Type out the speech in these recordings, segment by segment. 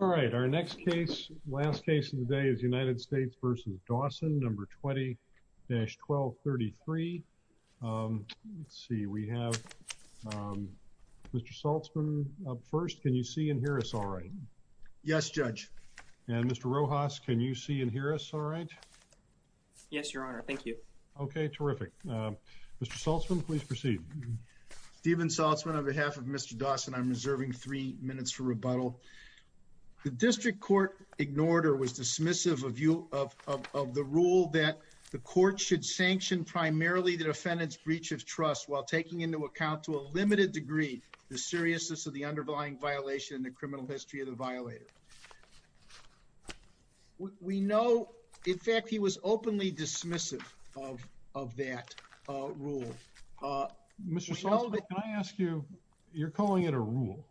All right, our next case, last case of the day is United States v. Dawson, No. 20-1233. Let's see, we have Mr. Saltzman up first. Can you see and hear us all right? Yes, Judge. And Mr. Rojas, can you see and hear us all right? Yes, Your Honor. Thank you. Okay, terrific. Mr. Saltzman, please proceed. Steven Saltzman, on behalf of Mr. Dawson, I'm reserving three minutes for rebuttal. The district court ignored or was dismissive of the rule that the court should sanction primarily the defendant's breach of trust while taking into account to a limited degree the seriousness of the underlying violation in the criminal history of the violator. We know, in fact, he was openly dismissive of that rule. Mr. Saltzman, can I ask you, you're calling it a rule,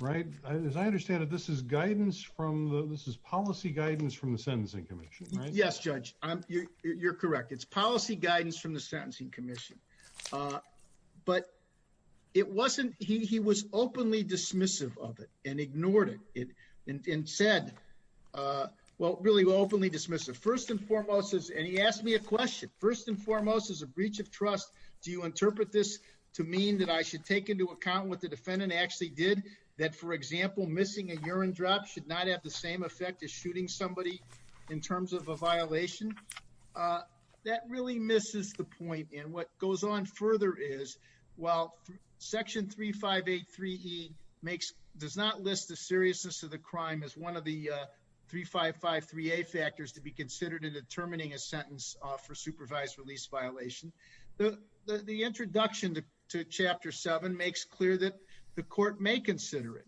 right? As I understand it, this is guidance from the, this is policy guidance from the Sentencing Commission, right? Yes, Judge. You're correct. It's policy guidance from the Sentencing Commission. But it wasn't, he was openly dismissive of it and ignored it and said, well, really openly dismissive. First and foremost, and he asked me a question, first and foremost, as a breach of trust, do you interpret this to mean that I should take into account what the defendant actually did? That, for example, missing a urine drop should not have the same effect as shooting somebody in terms of a violation? Uh, that really misses the point. And what goes on further is, while Section 3583E makes, does not list the seriousness of the crime as one of the 3553A factors to be considered in determining a sentence for supervised release violation, the introduction to Chapter 7 makes clear that the court may consider it.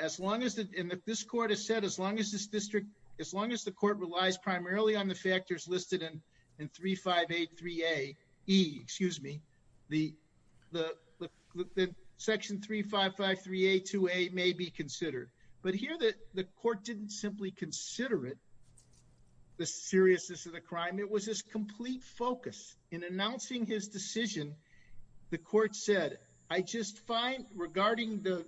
As long as, and this court has said, as long as this district, as long as the court relies primarily on the factors listed in 3583A, E, excuse me, the Section 3553A2A may be considered. But here the court didn't simply consider it, the seriousness of the crime. It was his complete focus. In announcing his decision, the court said, I just find, regarding the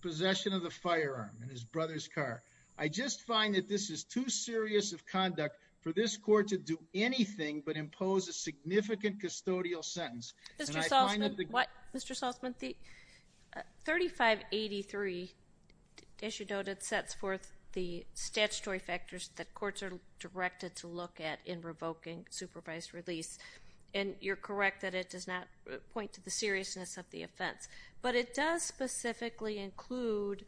possession of the firearm in his brother's car, I just find that this is too serious of conduct for this court to do anything but impose a significant custodial sentence. Mr. Salzman, what? Mr. Salzman, the 3583, as you noted, sets forth the statutory factors that courts are directed to look at in revoking supervised release. And you're correct that it does not point to the seriousness of the offense. But it does specifically include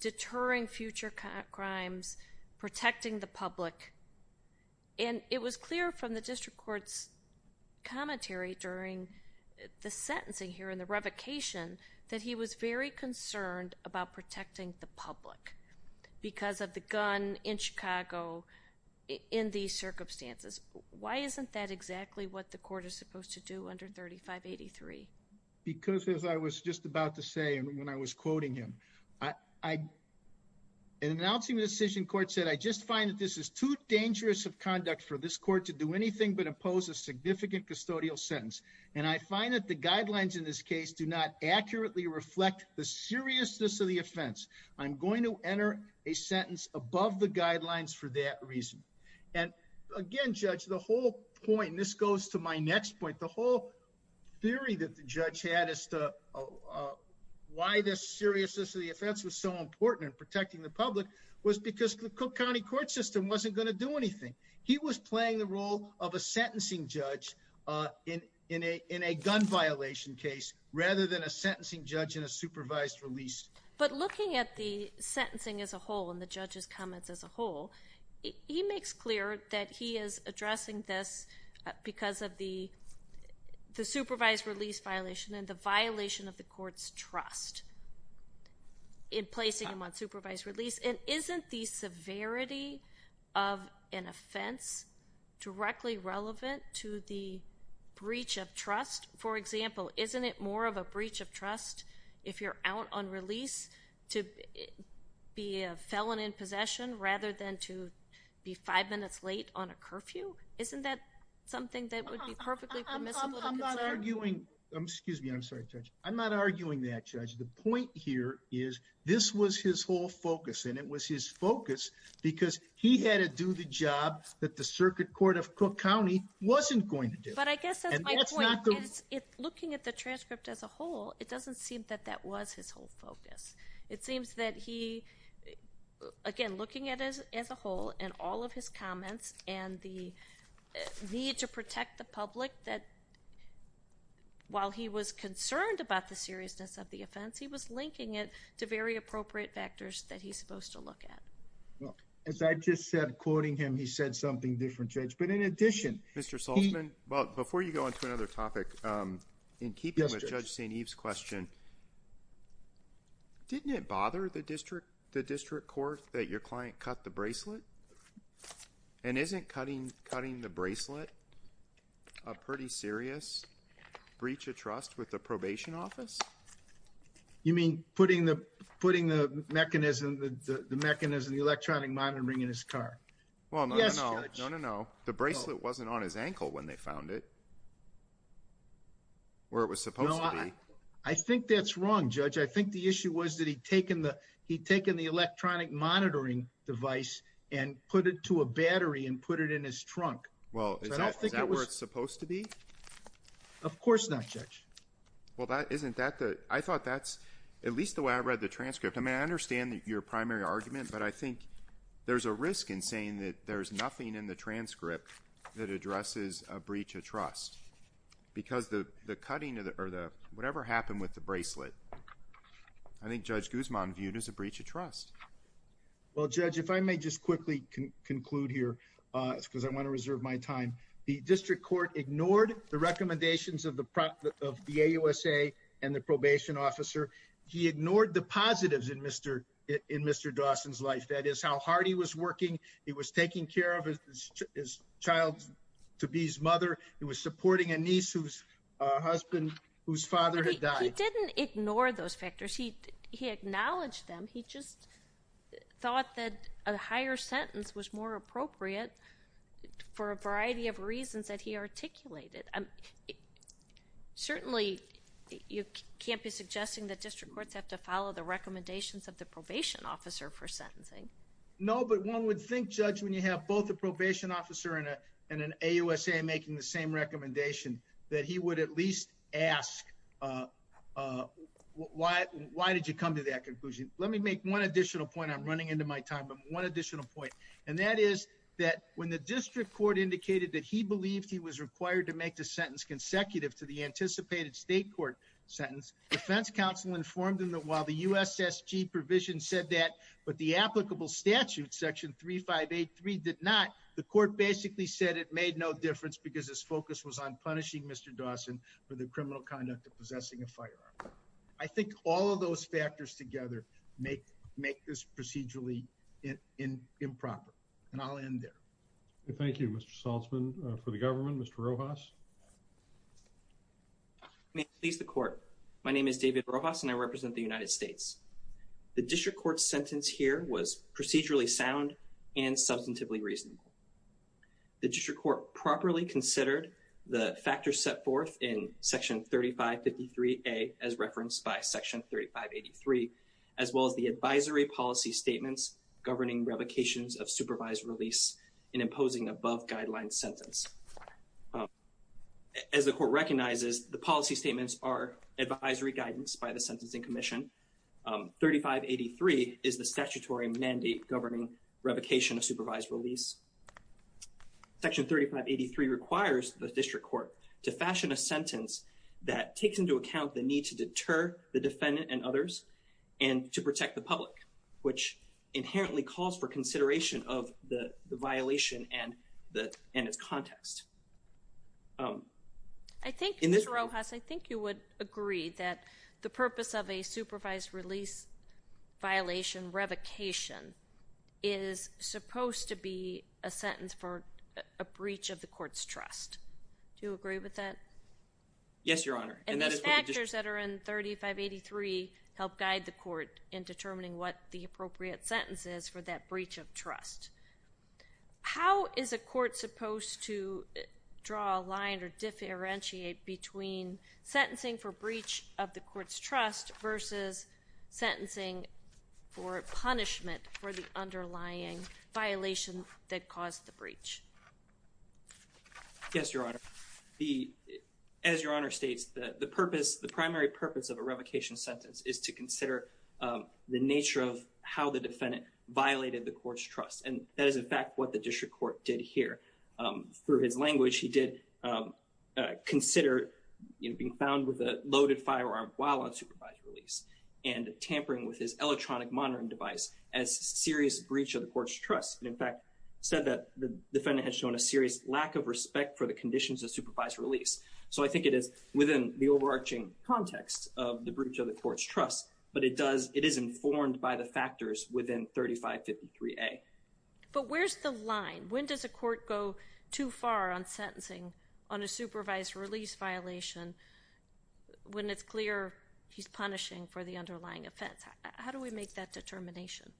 deterring future crimes, protecting the public. And it was clear from the district court's commentary during the sentencing here and the revocation that he was very concerned about protecting the public because of the gun in Chicago in these circumstances. Why isn't that when I was quoting him? In announcing the decision, court said, I just find that this is too dangerous of conduct for this court to do anything but impose a significant custodial sentence. And I find that the guidelines in this case do not accurately reflect the seriousness of the offense. I'm going to enter a sentence above the guidelines for that reason. And again, the whole point, and this goes to my next point, the whole theory that the judge had as to why the seriousness of the offense was so important in protecting the public was because the Cook County court system wasn't going to do anything. He was playing the role of a sentencing judge in a gun violation case rather than a sentencing judge in a supervised release. But looking at the sentencing as a whole and the judge's comments as a whole, he makes clear that he is addressing this because of the supervised release violation and the violation of the court's trust in placing him on supervised release. And isn't the severity of an offense directly relevant to the breach of trust? For example, isn't it more of a breach of five minutes late on a curfew? Isn't that something that would be perfectly permissible? I'm not arguing that, Judge. The point here is this was his whole focus and it was his focus because he had to do the job that the circuit court of Cook County wasn't going to do. But I guess that's my point. Looking at the transcript as a whole, it doesn't seem that that was his whole focus. It seems that he, again, looking at it as a whole and all of his comments and the need to protect the public, that while he was concerned about the seriousness of the offense, he was linking it to very appropriate factors that he's supposed to look at. As I just said, quoting him, he said something different, Judge. But in addition, Mr. Saltzman, before you go on to another topic, in keeping with Judge St. Eve's question, didn't it bother the district court that your client cut the bracelet? And isn't cutting the bracelet a pretty serious breach of trust with the probation office? You mean putting the mechanism, the electronic monitor ring in his car? Well, no, no, no. The bracelet wasn't on his ankle when they found it, where it was supposed to be. No, I think that's wrong, Judge. I think the issue was that he'd taken the electronic monitoring device and put it to a battery and put it in his trunk. Well, is that where it's supposed to be? Of course not, Judge. Well, isn't that the... I thought that's at least the way I read the transcript. I mean, I understand your primary argument, but I think there's a risk in saying that there's nothing in the transcript that addresses a breach of trust, because the cutting or whatever happened with the bracelet, I think Judge Guzman viewed as a breach of trust. Well, Judge, if I may just quickly conclude here, because I want to reserve my time. The district court ignored the recommendations of the AUSA and the probation officer. He ignored the positives in Mr. Dawson's life, that is, how hard he was working, he was taking care of his child to be his mother, he was supporting a niece whose husband, whose father had died. He didn't ignore those factors. He acknowledged them. He just thought that a higher sentence was more appropriate for a variety of reasons that he articulated. Certainly, you can't be suggesting that district courts have to follow the recommendations of the probation officer for sentencing. No, but one would think, Judge, when you have both a probation officer and an AUSA making the same recommendation, that he would at least ask, why did you come to that conclusion? Let me make one additional point. I'm running into my time, but one additional point. And that is that when the district court indicated that he believed he was required to make the sentence consecutive to the anticipated state court sentence, defense counsel informed him that the USSG provision said that, but the applicable statute, section 3583, did not. The court basically said it made no difference because his focus was on punishing Mr. Dawson for the criminal conduct of possessing a firearm. I think all of those factors together make this procedurally improper. And I'll end there. Thank you, Mr. Saltzman. For the government, Mr. Rojas. May it please the court. My name is David Rojas and I represent the United States. The district court sentence here was procedurally sound and substantively reasonable. The district court properly considered the factors set forth in section 3553A as referenced by section 3583, as well as the advisory policy statements governing revocations of supervised release in imposing above guideline sentence. As the court recognizes, the policy statements are advisory guidance by the Sentencing Commission. 3583 is the statutory mandate governing revocation of supervised release. Section 3583 requires the district court to fashion a sentence that takes into account the need to deter the defendant and others and to protect the public, which inherently calls for consideration of the violation and its context. I think, Mr. Rojas, I think you would agree that the purpose of a supervised release violation revocation is supposed to be a sentence for a breach of the court's trust. Do you agree with that? Yes, Your Honor. And those factors that are in 3583 help guide the appropriate sentences for that breach of trust. How is a court supposed to draw a line or differentiate between sentencing for breach of the court's trust versus sentencing for punishment for the underlying violation that caused the breach? Yes, Your Honor. As Your Honor states, the primary purpose of a revocation sentence is to consider the nature of how the defendant violated the court's trust. And that is, in fact, what the district court did here. Through his language, he did consider being found with a loaded firearm while on supervised release and tampering with his electronic monitoring device as a serious breach of the court's trust. In fact, he said that the defendant had shown a serious lack of respect for the overarching context of the breach of the court's trust. But it is informed by the factors within 3553A. But where's the line? When does a court go too far on sentencing on a supervised release violation when it's clear he's punishing for the underlying offense? How do we make that determination?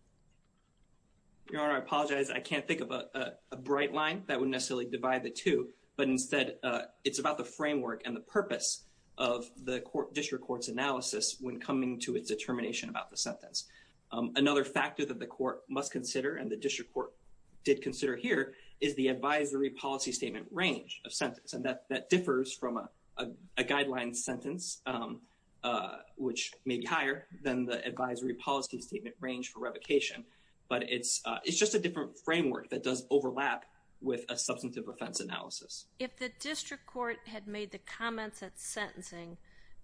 Your Honor, I apologize. I can't think of a bright line that would necessarily divide the two. But instead, it's about the framework and the purpose of the district court's analysis when coming to its determination about the sentence. Another factor that the court must consider and the district court did consider here is the advisory policy statement range of sentence. And that differs from a guideline sentence, which may be higher than the advisory policy statement range for revocation. But it's just a different framework that does overlap with a substantive offense analysis. If the district court had made the comments at sentencing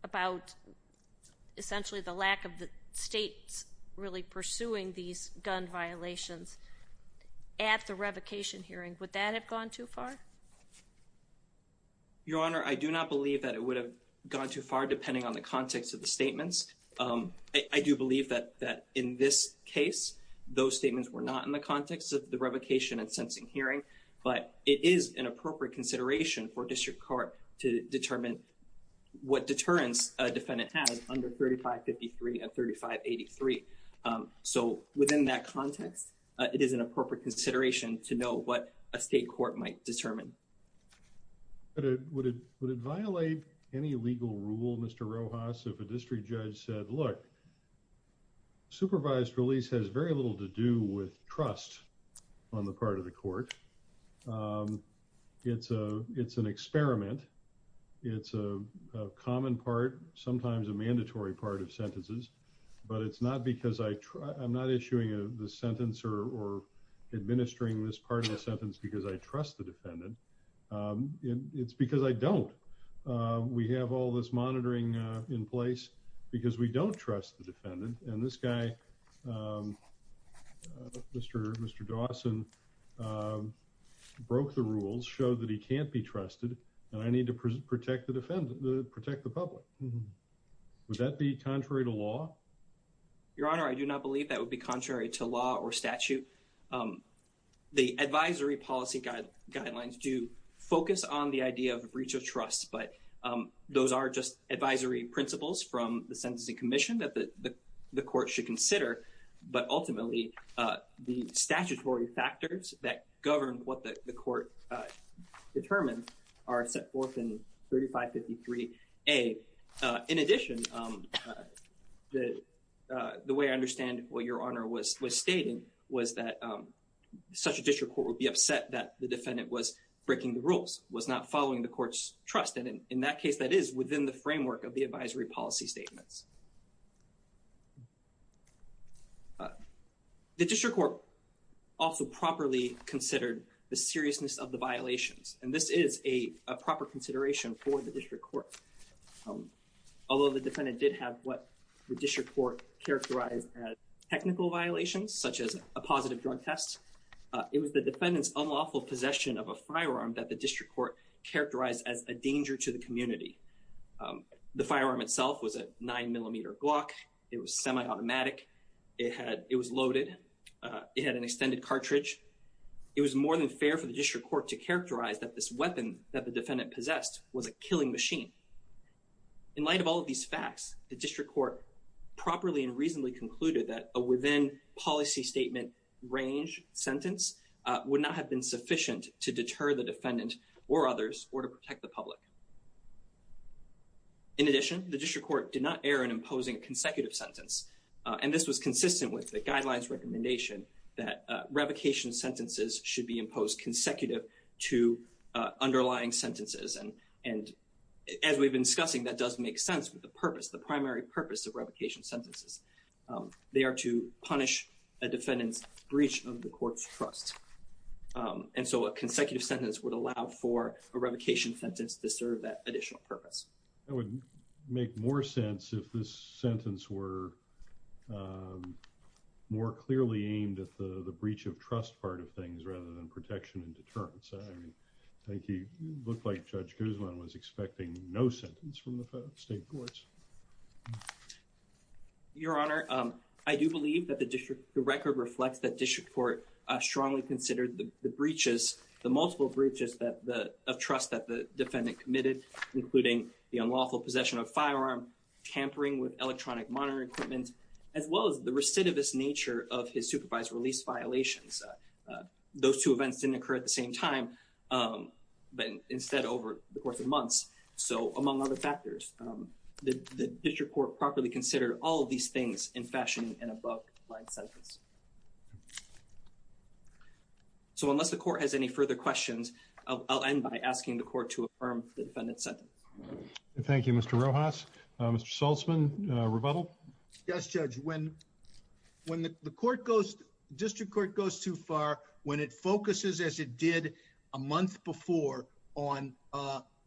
about essentially the lack of the states really pursuing these gun violations at the revocation hearing, would that have gone too far? Your Honor, I do not believe that it would have gone too far depending on the context of the statements. I do believe that in this case, those statements were not in the context of the revocation and sentencing hearing. But it is an appropriate consideration for district court to determine what deterrence a defendant has under 3553 and 3583. So within that context, it is an appropriate consideration to know what a state court might determine. But would it violate any legal rule, Mr. Rojas, if a district judge said, look, supervised release has very little to do with trust on the part of the court. It's an experiment. It's a common part, sometimes a mandatory part of sentences. But it's not because I'm not issuing the sentence or administering this part of the sentence because I trust the defendant. It's because I don't. We have all this monitoring in place because we don't trust the defendant. And this guy, Mr. Dawson, broke the rules, showed that he can't be trusted, and I need to protect the public. Would that be contrary to law? Your Honor, I do not believe that would be contrary to law or statute. The advisory policy guidelines do focus on the idea of breach of trust, but those are just the things that the court should consider. But ultimately, the statutory factors that govern what the court determines are set forth in 3553A. In addition, the way I understand what Your Honor was stating was that such a district court would be upset that the defendant was breaking the rules, was not following the court's trust. And in that case, that is within the framework of the advisory policy statements. The district court also properly considered the seriousness of the violations, and this is a proper consideration for the district court. Although the defendant did have what the district court characterized as technical violations, such as a positive drug test, it was the defendant's unlawful possession of a firearm that the district court characterized as a danger to the community. The firearm itself was a nine-millimeter Glock. It was semi-automatic. It was loaded. It had an extended cartridge. It was more than fair for the district court to characterize that this weapon that the defendant possessed was a killing machine. In light of all of these facts, the district court properly and reasonably concluded that a within policy statement range sentence would not have been sufficient to deter the defendant or others or to protect the public. In addition, the district court did not err in imposing a consecutive sentence, and this was consistent with the guidelines recommendation that revocation sentences should be imposed consecutive to underlying sentences. And as we've been discussing, that does make sense with the purpose, the primary purpose of revocation sentences. They are to punish a defendant's breach of the court's trust. And so a consecutive sentence would allow for a revocation sentence to serve that additional purpose. That would make more sense if this sentence were more clearly aimed at the breach of trust part of things rather than protection and deterrence. I mean, I think he looked like Judge Guzman was expecting no sentence from the state courts. Your Honor, I do believe that the record reflects that district court strongly considered the breaches, the multiple breaches of trust that the defendant committed, including the unlawful possession of firearm, tampering with electronic monitoring equipment, as well as the recidivist nature of his supervised release violations. Those two events didn't occur at the same time, but instead over the course of months. So among other factors, the district court properly considered all of these things in fashion in a book-like sentence. So unless the court has any further questions, I'll end by asking the court to affirm the defendant's sentence. Thank you, Mr. Rojas. Mr. Saltzman, rebuttal? Yes, Judge. When the district court goes too far, when it focuses, as it did a month before, on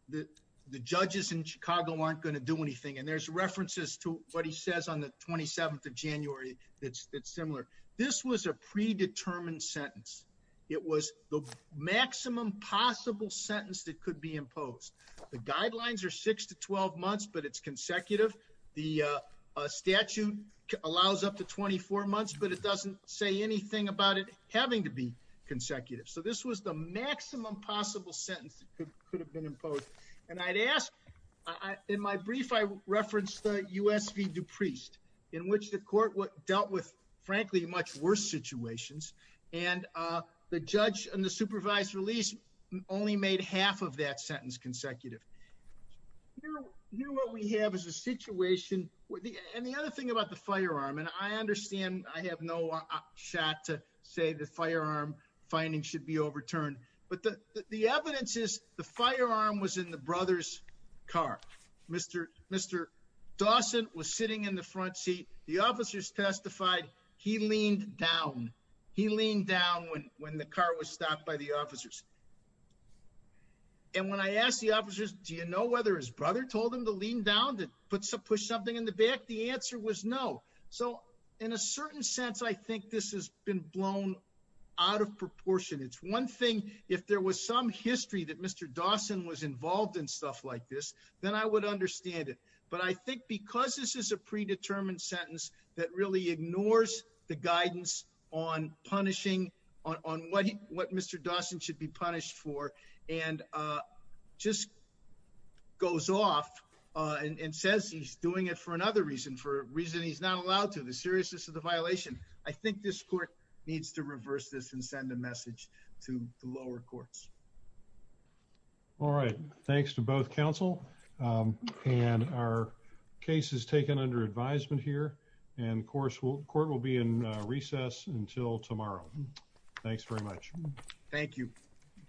the judges in Chicago aren't going to do anything, and there's references to what he says on the 27th of January that's similar. This was a predetermined sentence. It was the maximum possible sentence that could be imposed. The guidelines are six to twelve months, but it's consecutive. The statute allows up to 24 months, but it doesn't say anything about it having to be consecutive. So this was the maximum possible sentence that could have been imposed. And I'd ask, in my brief I referenced the U.S. v. DuPriest, in which the court dealt with, frankly, much worse situations, and the judge in the supervised release only made half of that sentence consecutive. Here what we have is a situation, and the other thing about the firearm, and I understand I have no shot to say the firearm finding should be overturned, but the evidence is the firearm was in the brother's car. Mr. Dawson was sitting in the front seat. The officers testified he leaned down. He leaned down when the car was stopped by the officers. And when I asked the officers, do you know whether his brother told him to lean down to push something in the back, the answer was no. So in a certain sense, I think this has been blown out of proportion. It's one thing if there was some history that Mr. Dawson was involved in stuff like this, then I would understand it. But I think because this is a predetermined sentence that really ignores the guidance on punishing, on what Mr. Dawson should be punished for, and just goes off and says he's doing it for another reason, for a reason he's not allowed to, the seriousness of the violation, I think this court needs to reverse this and send a message to the lower courts. All right. Thanks to both counsel. And our case is taken under advisement here. And of course, the court will be in recess until tomorrow. Thanks very much. Thank you.